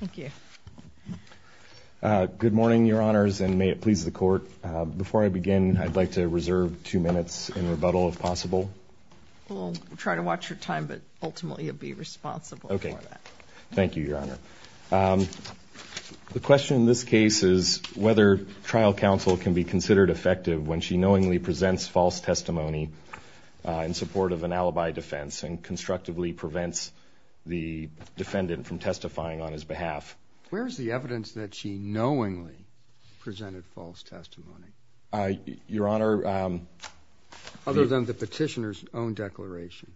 thank you good morning your honors and may it please the court before I begin I'd like to reserve two minutes in rebuttal if possible we'll try to watch your time but ultimately you'll be responsible okay thank you your honor the question in this case is whether trial counsel can be considered effective when she knowingly presents false testimony in support of an alibi defense and constructively prevents the defendant from testifying on his behalf where's the evidence that she knowingly presented false testimony your honor other than the petitioners own declaration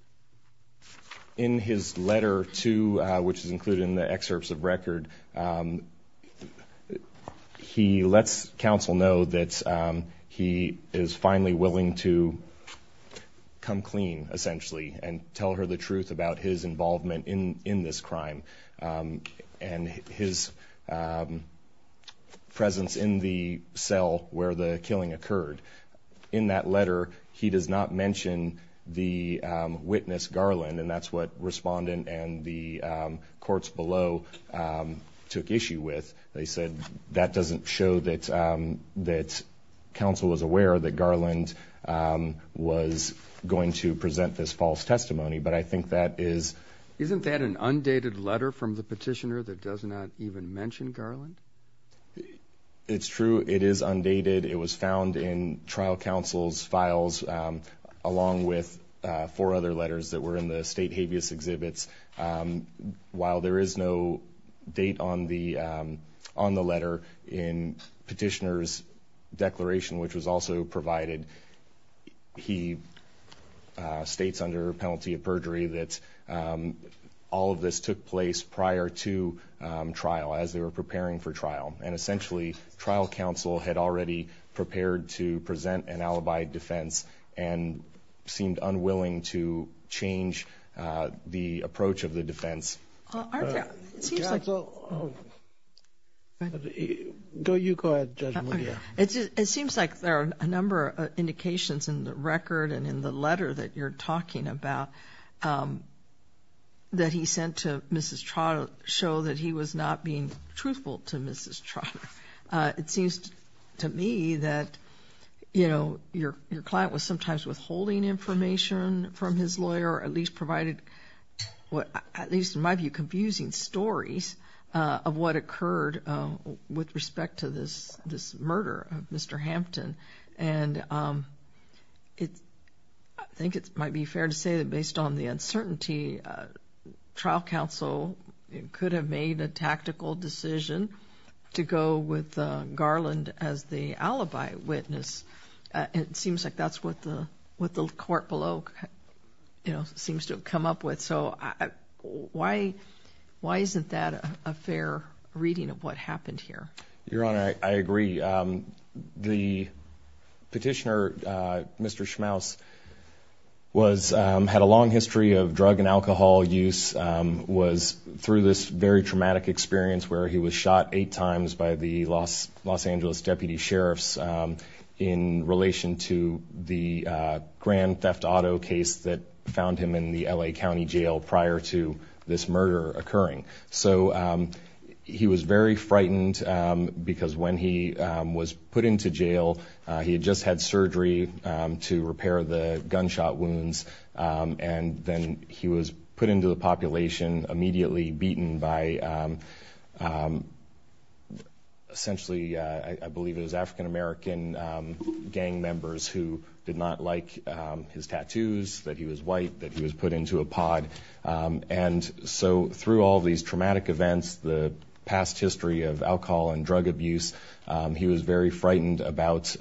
in his letter to which is included in the excerpts of record he lets counsel know that he is finally willing to come clean essentially and tell her the truth about his involvement in in this crime and his presence in the cell where the killing occurred in that letter he does not mention the witness Garland and that's what respondent and the courts below took issue with they said that doesn't show that that's council is aware that Garland was going to present this false testimony but I think that is isn't that an undated letter from the petitioner that does not even mention Garland it's true it is undated it was found in trial counsel's files along with four other letters that were in the state habeas exhibits while there is no date on the on the letter in petitioners declaration which was also provided he states under penalty of perjury that all of this took place prior to trial as they were preparing for trial and essentially trial counsel had already prepared to present an alibi defense and seemed unwilling to change the approach of the defense it seems like there are a number of indications in the record and in the letter that you're talking about that he sent to mrs. trial show that he was not being truthful to mrs. trotter it seems to me that you know your your client was sometimes withholding information from his lawyer at least provided what at least in my view confusing stories of what occurred with respect to this this murder of mr. Hampton and it I think it might be fair to say that based on the uncertainty trial counsel it could have made a tactical decision to go with Garland as the alibi witness it seems like that's what the with the court below you know seems to come up with so I why why isn't that a fair reading of what happened here your honor I agree the petitioner mr. Schmaus was had a long history of drug and alcohol use was through this very traumatic experience where he was shot eight times by the loss Angeles deputy sheriffs in relation to the grand theft auto case that found him in the LA County Jail prior to this murder occurring so he was very frightened because when he was put into jail he had just had surgery to repair the gunshot wounds and then he was put into the population immediately beaten by essentially I believe it was african-american gang members who did not like his tattoos that he was white that he was put into a pod and so through all these traumatic events the past history of alcohol and drug abuse he was very frightened about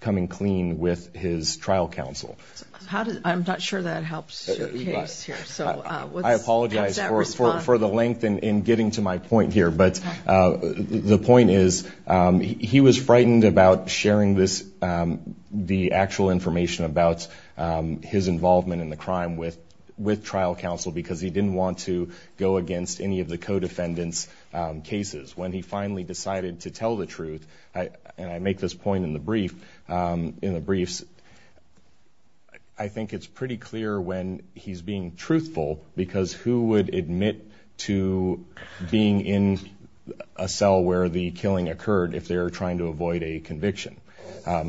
coming clean with his trial counsel how did I'm not sure that helps I apologize for the length and in getting to my point here but the point is he was frightened about sharing this the actual information about his involvement in the crime with with trial counsel because he didn't want to go against any of the co-defendants cases when he finally decided to tell the truth I and I make this point in the brief in the briefs I think it's pretty clear when he's being truthful because who would admit to being in a cell where the killing occurred if they are trying to avoid a conviction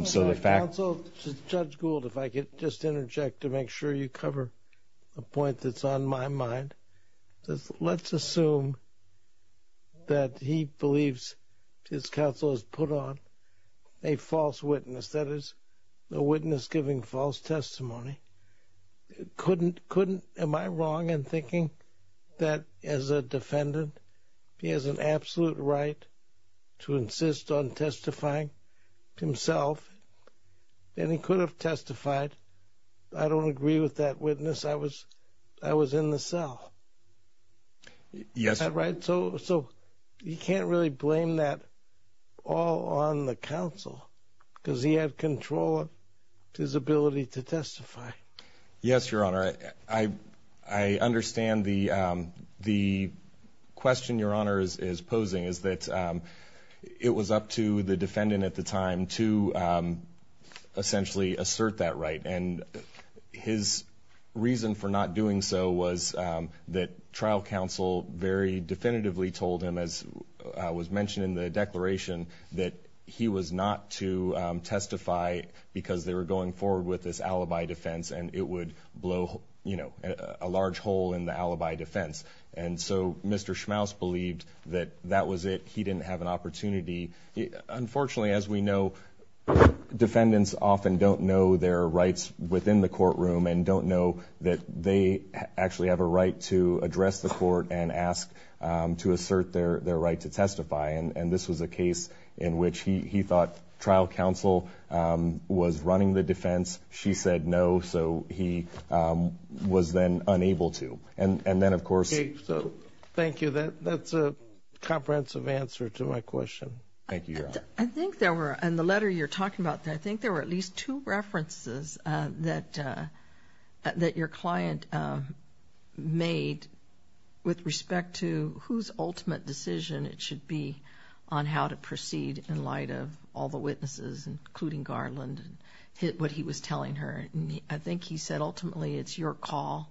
so the fact so judge Gould if I could just interject to make sure you cover a point that's on my mind let's assume that he believes his counsel has put on a false witness that is the witness giving false testimony couldn't couldn't am I wrong and thinking that as a defendant he has an absolute right to insist on testifying himself and he could have testified I don't agree with that witness I was I was in the cell yes right so so you can't really blame that all on the because he had control of his ability to testify yes your honor I I understand the the question your honor's is posing is that it was up to the defendant at the time to essentially assert that right and his reason for not doing so was that trial counsel very definitively told him as was mentioned in the not to testify because they were going forward with this alibi defense and it would blow you know a large hole in the alibi defense and so mr. schmaus believed that that was it he didn't have an opportunity unfortunately as we know defendants often don't know their rights within the courtroom and don't know that they actually have a right to address the court and ask to assert their their to testify and and this was a case in which he thought trial counsel was running the defense she said no so he was then unable to and and then of course so thank you that that's a comprehensive answer to my question thank you I think there were and the letter you're talking about that I think there were at least two references that that your client made with respect to whose ultimate decision it should be on how to proceed in light of all the witnesses including Garland and hit what he was telling her I think he said ultimately it's your call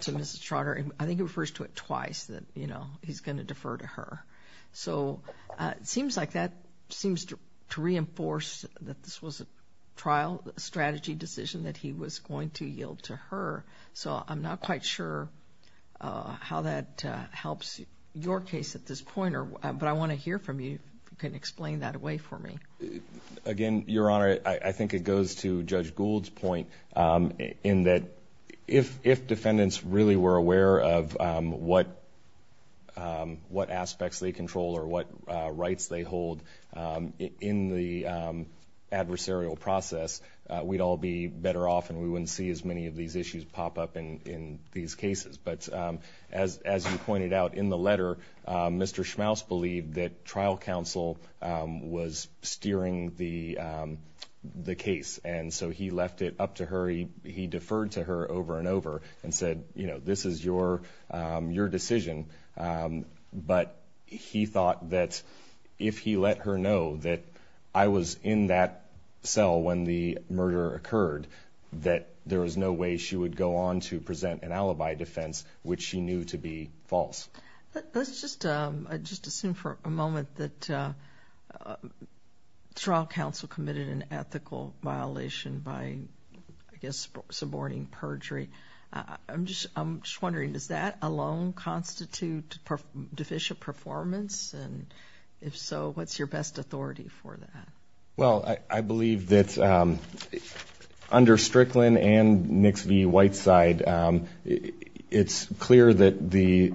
to mr. Schroeder and I think it refers to it twice that you know he's gonna defer to her so it seems like that seems to reinforce that this was a trial strategy decision that he was going to yield to her so I'm not quite sure how that helps your case at this pointer but I want to hear from you you can explain that away for me again your honor I think it goes to judge Gould's point in that if if defendants really were aware of what what aspects they control or what rights they hold in the adversarial process we'd all be better off and we wouldn't see as many of these issues pop up in in these cases but as as you pointed out in the letter mr. Schmaus believed that trial counsel was steering the the case and so he left it up to her he deferred to her over and over and said you know this is your your decision but he thought that if he let her know that I was in that cell when the murder occurred that there was no way she would go on to present an alibi defense which she knew to be false let's just just assume for a moment that trial counsel committed an ethical violation by I guess suborning perjury I'm just I'm just wondering does that alone constitute deficient performance and if so what's your best authority for that well I believe that under Strickland and mix the white side it's clear that the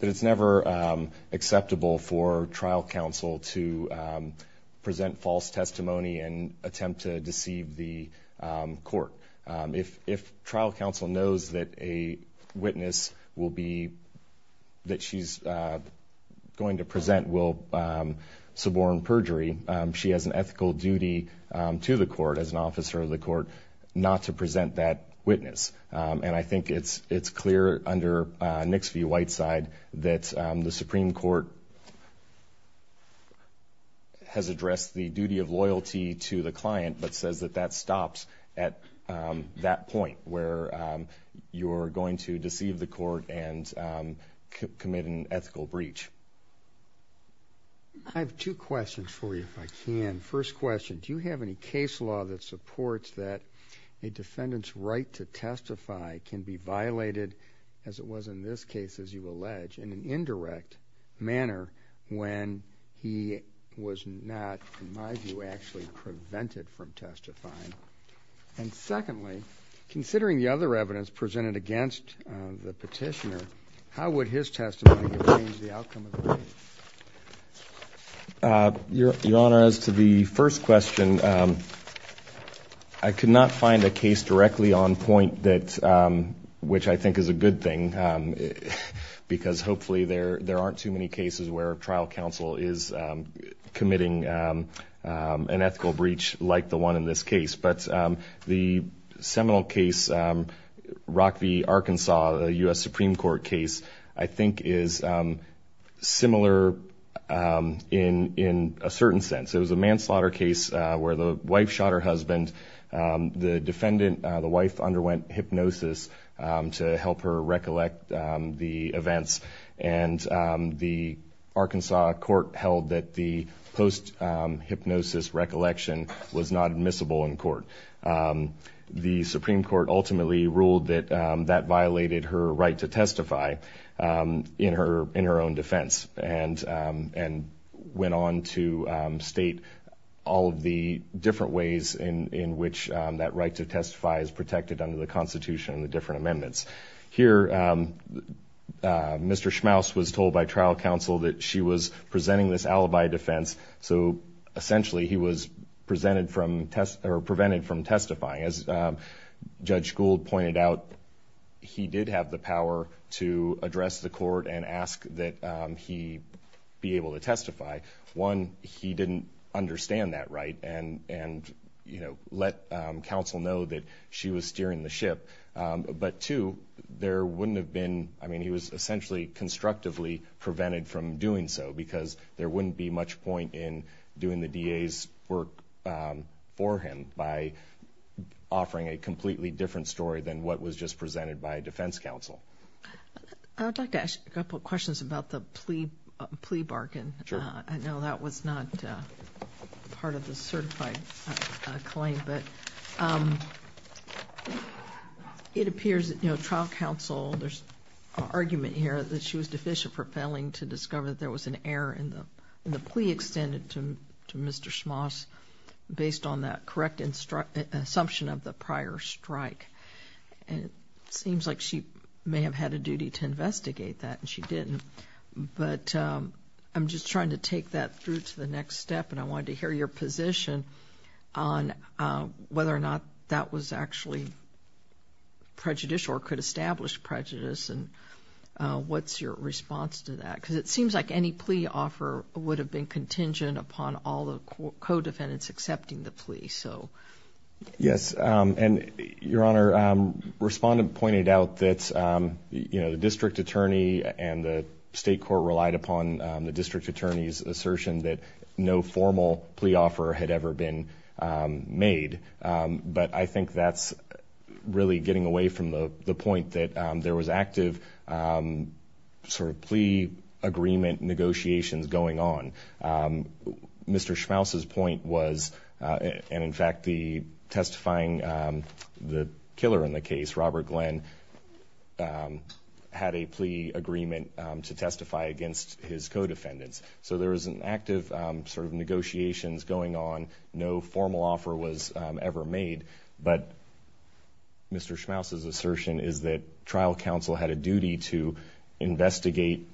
that it's never acceptable for trial counsel to present false testimony and attempt to deceive the court if if trial counsel knows that a witness will be that she's going to present will suborn perjury she has an ethical duty to the court as an officer of the court not to present that witness and I think it's it's clear under next few white side that the Supreme Court has addressed the duty of loyalty to the client but says that that stops at that point where you're going to deceive the court and commit an ethical breach I have two questions for you if I can first question do you have any case law that supports that a defendant's right to testify can be violated as it was in this case as you allege in an indirect manner when he was not in my view actually prevented from testifying and secondly considering the other evidence presented against the petitioner how would his testimony your honor as to the first question I could not find a case directly on point that which I think is a good thing because hopefully there there aren't too many cases where trial counsel is committing an ethical breach like the one in this case but the seminal case Rock the Arkansas US Supreme Court case I think is similar in in a certain sense it was a manslaughter case where the wife shot her husband the defendant the wife underwent hypnosis to help her recollect the events and the Arkansas court held that the post hypnosis recollection was not admissible in court the Supreme Court ultimately ruled that that violated her right to testify in her in her own defense and and went on to state all the different ways in in which that right to testify is protected under the Constitution the different amendments here Mr. Schmaus was told by trial counsel that she was presenting this alibi defense so essentially he was presented from test or prevented from testifying as Judge Gould pointed out he did have the power to address the court and ask that he be able to testify one he didn't understand that right and and you know let counsel know that she was steering the ship but to there wouldn't have been I mean he was essentially constructively prevented from doing so because there wouldn't be much point in doing the DA's work for him by offering a completely different story than what was just presented by a defense counsel I would like to ask a couple questions about the plea plea bargain I know that was not part of the certified claim but it appears that you know trial counsel there's argument here that she was deficient for failing to discover that there was an error in the in the plea extended to Mr. Schmaus based on that correct and struck an assumption of the prior strike and it seems like she may have had a duty to investigate that and she didn't but I'm just trying to take that through to the next step and I wanted to hear your position on whether or not that was actually prejudicial or could establish prejudice and what's your response to that because it seems like any plea offer would have been contingent upon all the co-defendants accepting the plea so yes and your honor respondent pointed out that you know the the state court relied upon the district attorney's assertion that no formal plea offer had ever been made but I think that's really getting away from the the point that there was active sort of plea agreement negotiations going on mr. Schmaus his point was and in fact the testifying the killer in the case Robert Glenn had a plea agreement to testify against his co-defendants so there is an active sort of negotiations going on no formal offer was ever made but mr. Schmaus is assertion is that trial counsel had a duty to investigate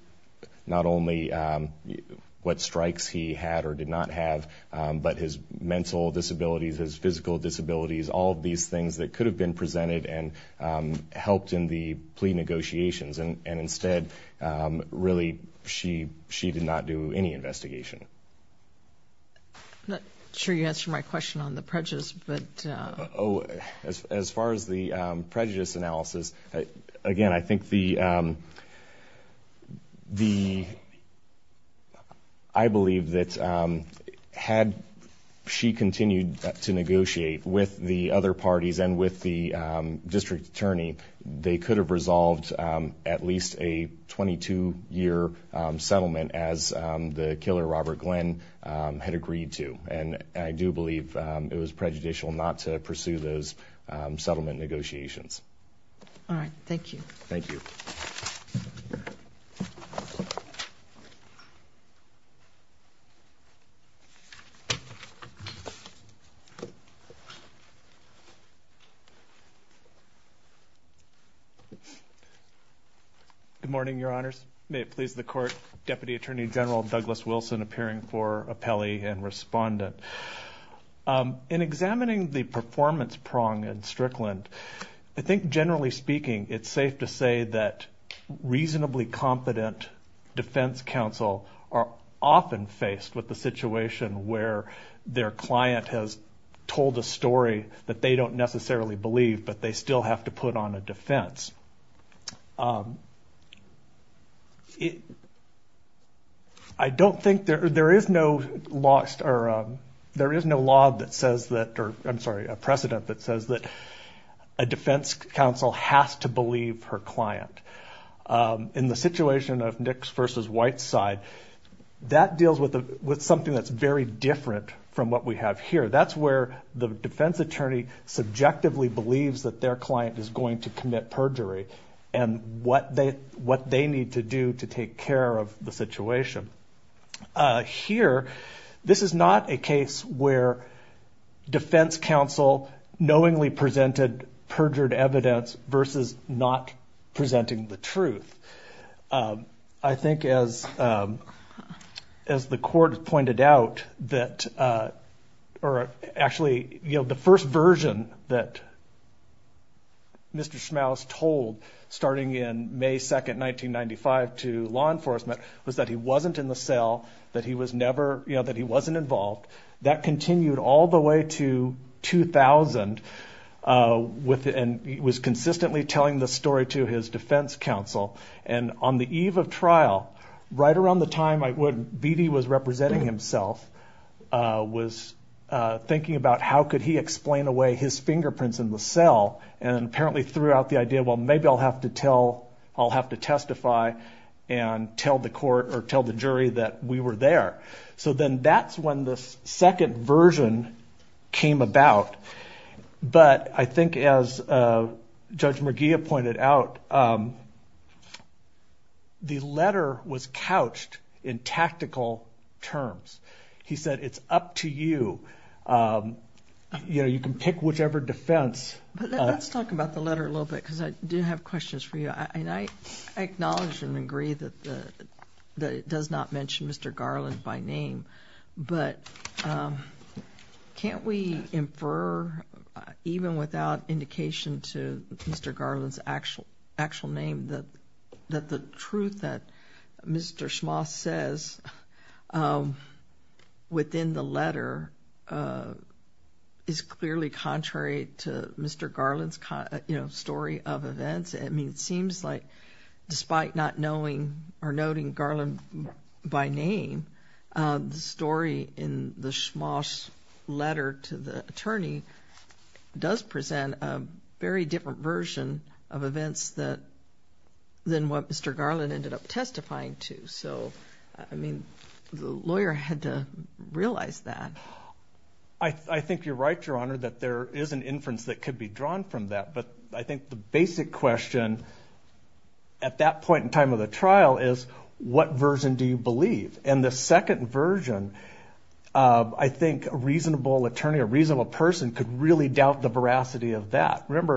not only what strikes he had or did not have but his mental disabilities as physical disabilities all these things that could have been presented and helped in the plea negotiations and instead really she she did not do any investigation not sure you answer my question on the prejudice but oh as far as the prejudice analysis again I think the the I believe that had she continued to negotiate with the other parties and with the district attorney they could have resolved at least a 22-year settlement as the killer Robert Glenn had agreed to and I do believe it was prejudicial not to pursue those settlement negotiations all right thank you thank you good morning your honors may it please the court deputy attorney general Douglas Wilson appearing for appellee and respondent in examining the performance prong and Strickland I think generally speaking it's safe to say that reasonably confident defense counsel are often faced with the situation where their client has told the story that they don't necessarily believe but they still have to put on a defense I don't think there is no lost or there is no law that says that I'm sorry a precedent that says that a defense counsel has to believe her client in the situation of Nick's versus white side that deals with something that's very different from what we have here that's where the defense attorney subjectively believes that their client is going to commit perjury and what they what they need to do to take care of the situation here this is not a case where defense counsel knowingly presented perjured evidence versus not presenting the truth I think as as the court pointed out that or actually you know the first version that Mr. Schmaus told starting in May 2nd 1995 to law enforcement was that he wasn't in the cell that he was never you know that he wasn't involved that continued all the way to 2000 within it was consistently telling the story to his defense counsel and on the eve of trial right around the time I wouldn't BD was representing himself was thinking about how could he explain away his fingerprints in the cell and apparently threw out the idea well maybe I'll have to tell I'll have to testify and tell the court or tell the jury that we were there so then that's when this second version came about but I think as Judge McGeough pointed out the letter was couched in tactical terms he said it's up to you you know you can pick whichever defense let's talk about the letter a little bit because I do have questions for you and I acknowledge and agree that the that it does not mention mr. Garland by name but can't we infer even without indication to mr. Garland's actual actual name that that the truth that mr. Schmaus says within the letter is clearly contrary to mr. Garland's kind of you know story of events I mean it the story in the Schmaus letter to the attorney does present a very different version of events that then what mr. Garland ended up testifying to so I mean the lawyer had to realize that I think you're right your honor that there is an inference that could be drawn from that but I think the basic question at that and the second version I think a reasonable attorney a reasonable person could really doubt the veracity of that remember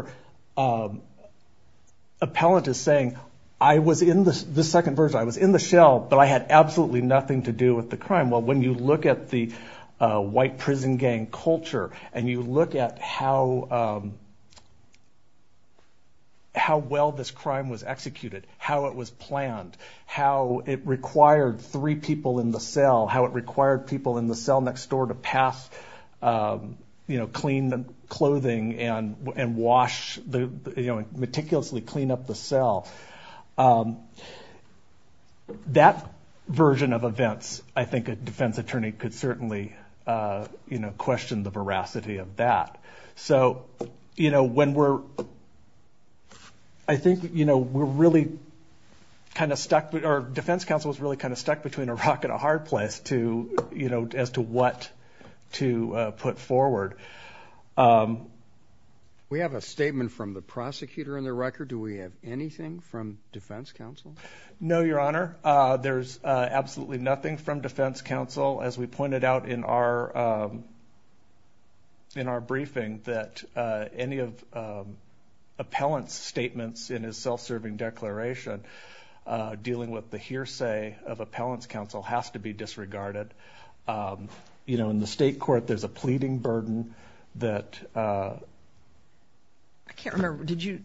appellant is saying I was in this the second version I was in the shell but I had absolutely nothing to do with the crime well when you look at the white prison gang culture and you look at how well this crime was executed how it was planned how it required three people in the cell how it required people in the cell next door to pass you know clean the clothing and and wash the meticulously clean up the cell that version of events I think a defense attorney could certainly you know so you know when we're I think you know we're really kind of stuck but our defense counsel was really kind of stuck between a rock and a hard place to you know as to what to put forward we have a statement from the prosecutor in the record do we have anything from defense counsel no your honor there's absolutely nothing from defense counsel as we pointed out in our in our briefing that any of appellants statements in his self-serving declaration dealing with the hearsay of appellants counsel has to be disregarded you know in the state court there's a pleading burden that I can't remember did you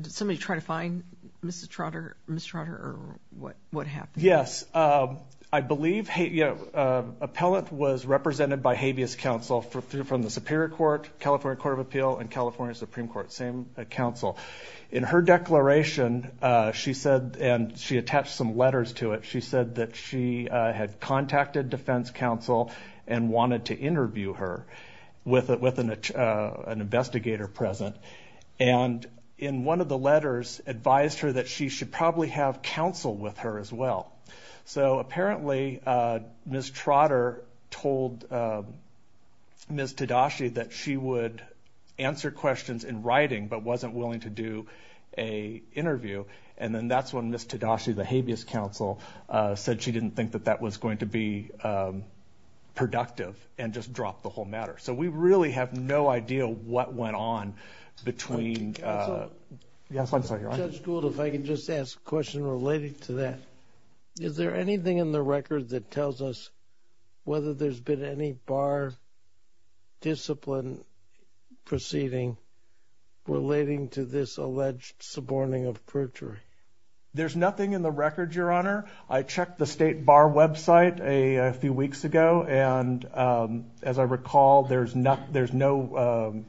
did somebody try to find mr. Trotter mr. Trotter or what what happened yes I believe hey yeah appellant was represented by habeas counsel for through from the Superior Court California Court of Appeal and California Supreme Court same counsel in her declaration she said and she attached some letters to it she said that she had contacted defense counsel and wanted to interview her with it with an investigator present and in one of the letters advised her that she should probably have counsel with her as well so apparently miss Trotter told miss Tadashi that she would answer questions in writing but wasn't willing to do a interview and then that's when miss Tadashi the habeas counsel said she didn't think that that was going to be productive and just drop the whole matter so we really have no idea what went on between yes I'm sorry if I can just ask a question related to that is there anything in the record that tells us whether there's been any bar discipline proceeding relating to this alleged suborning of perjury there's nothing in the record your honor I recall there's not there's no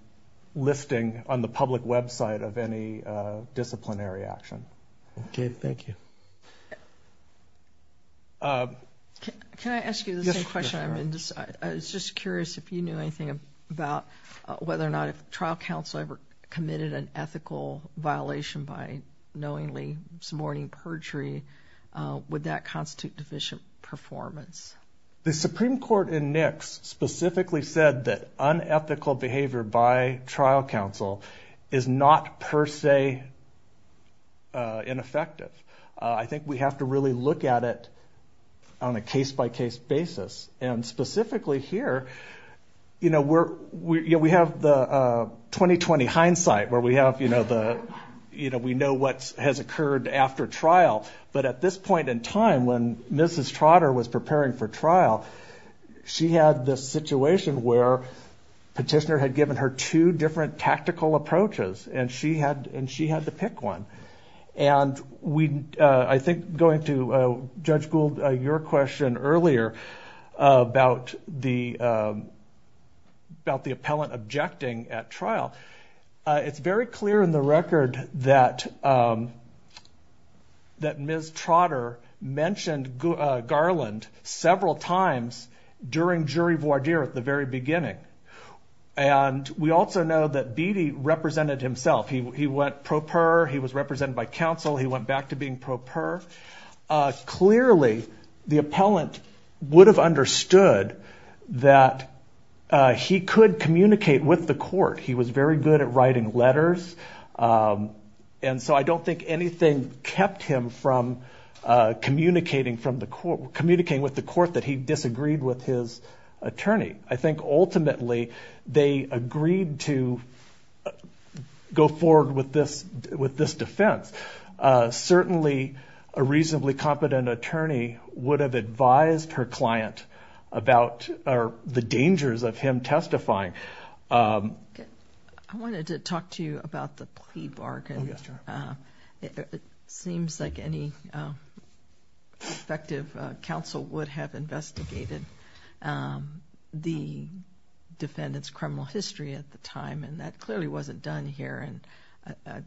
listing on the public website of any disciplinary action okay thank you I was just curious if you knew anything about whether or not a trial counsel ever committed an ethical violation by knowingly suborning perjury would that really said that unethical behavior by trial counsel is not per se ineffective I think we have to really look at it on a case-by-case basis and specifically here you know we're we have the 2020 hindsight where we have you know the you know we know what has occurred after trial but at this point in time when mrs. Trotter was preparing for trial she had this situation where petitioner had given her two different tactical approaches and she had and she had to pick one and we I think going to judge Gould your question earlier about the about the appellant objecting at trial it's very clear in the record that that mrs. Trotter mentioned Garland several times during jury voir dire at the very beginning and we also know that Beattie represented himself he went pro per he was represented by counsel he went back to being pro per clearly the appellant would have understood that he could communicate with the court he was very good at writing letters and so I don't think anything kept him from communicating from the court communicating with the court that he disagreed with his attorney I think ultimately they agreed to go forward with this with this defense certainly a reasonably competent attorney would have advised her client about the dangers of him testifying I wanted to talk to you about the plea bargain it seems like any effective counsel would have investigated the defendants criminal history at the time and that clearly wasn't done here and I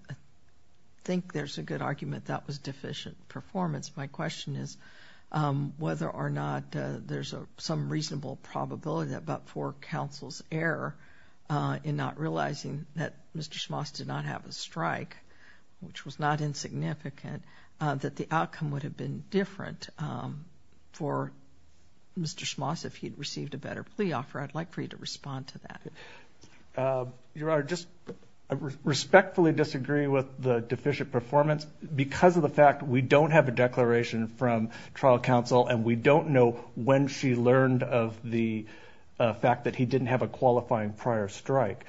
think there's a good argument that was deficient performance my question is whether or not there's a some reasonable probability about for counsel's error in not realizing that mr. Schmoss did not have a strike which was not insignificant that the outcome would have been different for mr. Schmoss if he'd received a better plea offer I'd like for you to respond to that you are just respectfully disagree with the have a declaration from trial counsel and we don't know when she learned of the fact that he didn't have a qualifying prior strike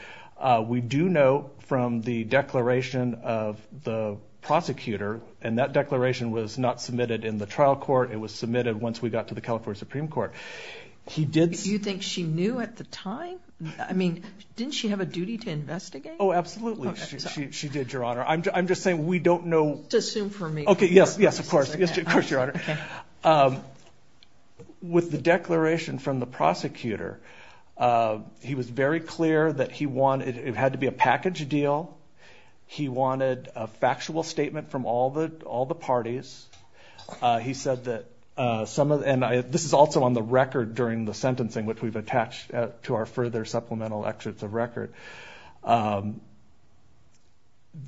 we do know from the declaration of the prosecutor and that declaration was not submitted in the trial court it was submitted once we got to the California Supreme Court he did you think she knew at the time I mean didn't she have a duty to investigate oh absolutely she did your honor I'm just saying we don't know to with the declaration from the prosecutor he was very clear that he wanted it had to be a package deal he wanted a factual statement from all the all the parties he said that some of and I this is also on the record during the sentencing which we've attached to our further supplemental excerpts of record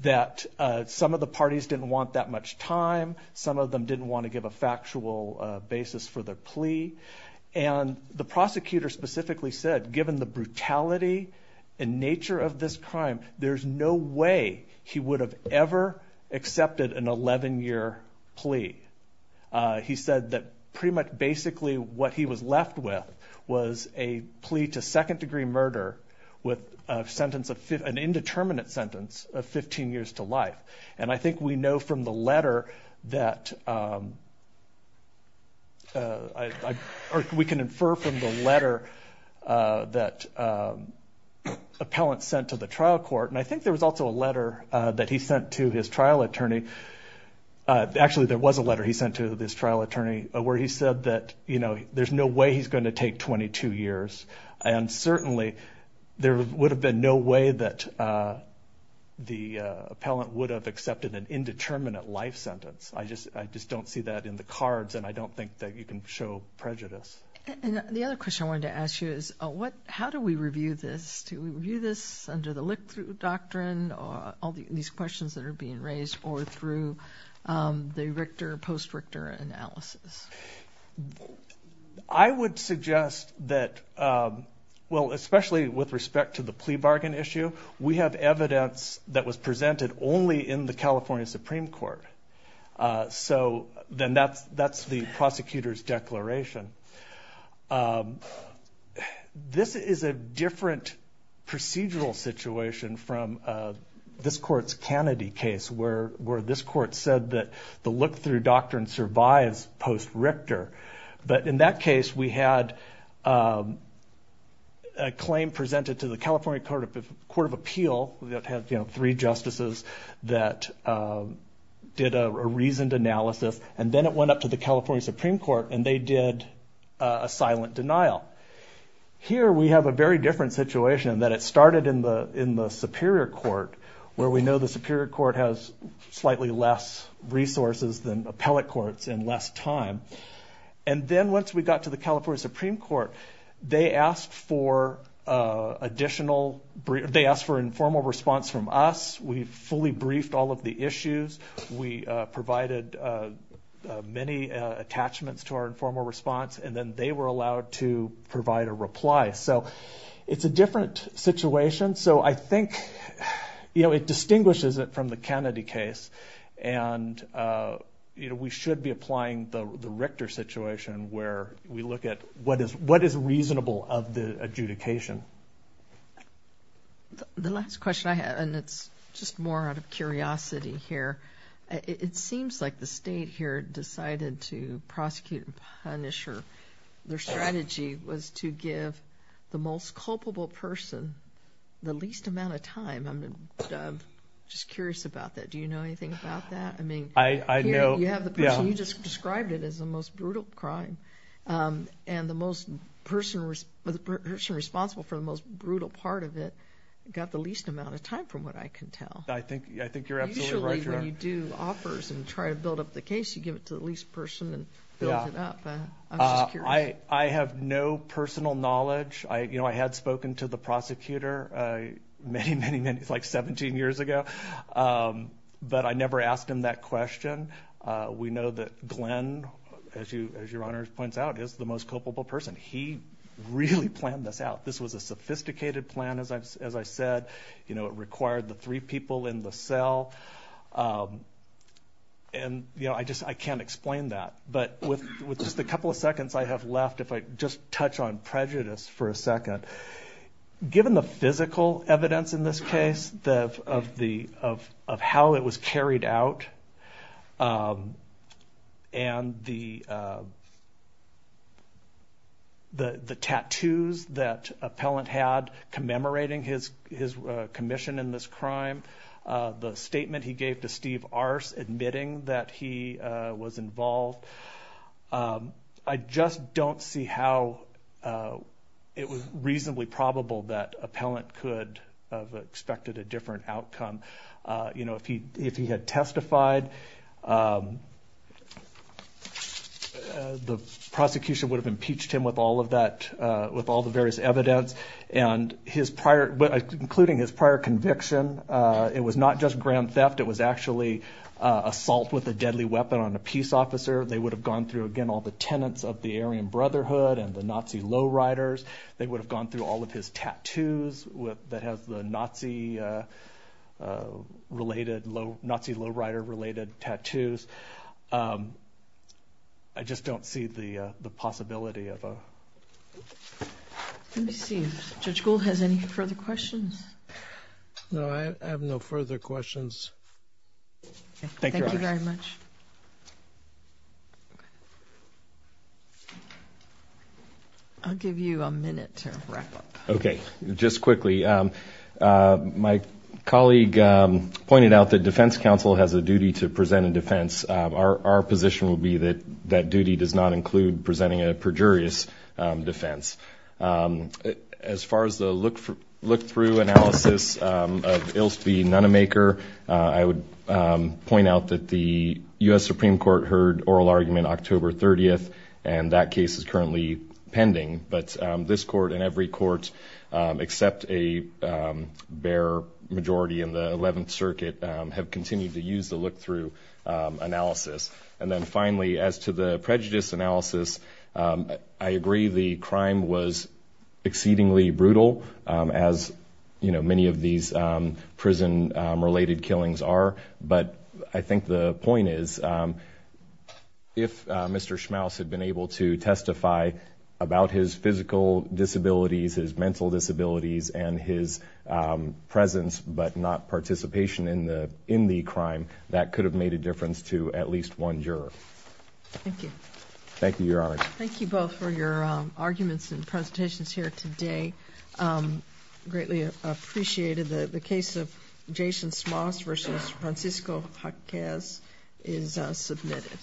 that some of the parties didn't want that much time some of them didn't want to give a factual basis for the plea and the prosecutor specifically said given the brutality and nature of this crime there's no way he would have ever accepted an 11-year plea he said that pretty much basically what he was left with was a plea to second-degree murder with a sentence of an indeterminate sentence of 15 years to life and I think we know from the letter that we can infer from the letter that appellant sent to the trial court and I think there was also a letter that he sent to his trial attorney actually there was a letter he sent to this trial attorney where he said that you know there's no way he's going to take 22 years and certainly there would have been no way that the appellant would have accepted an indeterminate life sentence I just I just don't see that in the cards and I don't think that you can show prejudice and the other question I wanted to ask you is what how do we review this to review this under the look-through doctrine or all these questions that are being raised or through the Richter post Richter analysis I would suggest that well especially with respect to the plea bargain issue we have evidence that was presented only in the California Supreme Court so then that's that's the prosecutor's declaration this is a different procedural situation from this court's Kennedy case where where this court said that the look-through doctrine survives post Richter but in that case we had a claim presented to the California Court of Appeal that had you know three justices that did a reasoned analysis and then it went up to the California Supreme Court and they did a silent denial here we have a very different situation that it started in the in the Superior Court where we know the Superior Court has slightly less resources than appellate courts and less time and then once we got to the California Supreme Court they asked for additional they asked for informal response from us we fully briefed all of the issues we provided many attachments to our informal response and then they were allowed to provide a reply so it's a different situation so I think you know it distinguishes it from the you know we should be applying the the Richter situation where we look at what is what is reasonable of the adjudication the last question I had and it's just more out of curiosity here it seems like the state here decided to prosecute and punish her their strategy was to give the most culpable person the least amount of time I'm just curious about that do you know anything about that I mean I know you have the person you just described it as the most brutal crime and the most person was the person responsible for the most brutal part of it got the least amount of time from what I can tell I think I think you're absolutely right when you do offers and try to build up the case you give it to the least person and build it up I have no personal knowledge I you know I had spoken to the prosecutor many many minutes like 17 years ago but I never asked him that question we know that Glenn as you as your honors points out is the most culpable person he really planned this out this was a sophisticated plan as I've as I said you know it required the three people in the cell and you know I just I can't explain that but with with just a couple of seconds I have left if I just touch on prejudice for a second given the and the the the tattoos that appellant had commemorating his his commission in this crime the statement he gave to Steve Arce admitting that he was involved I just don't see how it was reasonably probable that appellant could have expected a different outcome you know if he if he had testified the prosecution would have impeached him with all of that with all the various evidence and his prior but including his prior conviction it was not just grand theft it was actually assault with a deadly weapon on a peace officer they would have gone through again all the tenants of the Aryan Brotherhood and the Nazi lowriders they would have gone through all of his tattoos with that has the Nazi related low Nazi lowrider related tattoos I just don't see the the possibility of a seems to school has any further questions no I have no further questions I'll give you a minute to wrap up okay just quickly my colleague pointed out that defense counsel has a duty to present a defense our position will be that that duty does not include presenting a perjurious defense as far as the look for look through analysis it'll speed none a maker I would point out that the US Supreme Court heard oral argument October 30th and that case is currently pending but this court and every court except a bare majority in the 11th Circuit have continued to use the look analysis and then finally as to the prejudice analysis I agree the crime was exceedingly brutal as you know many of these prison related killings are but I think the point is if mr. Schmaus had been able to testify about his physical disabilities his mental disabilities and his presence but not participation in in the crime that could have made a difference to at least one juror thank you your honor thank you both for your arguments and presentations here today greatly appreciated the the case of Jason Schmaus versus Francisco hot gas is submitted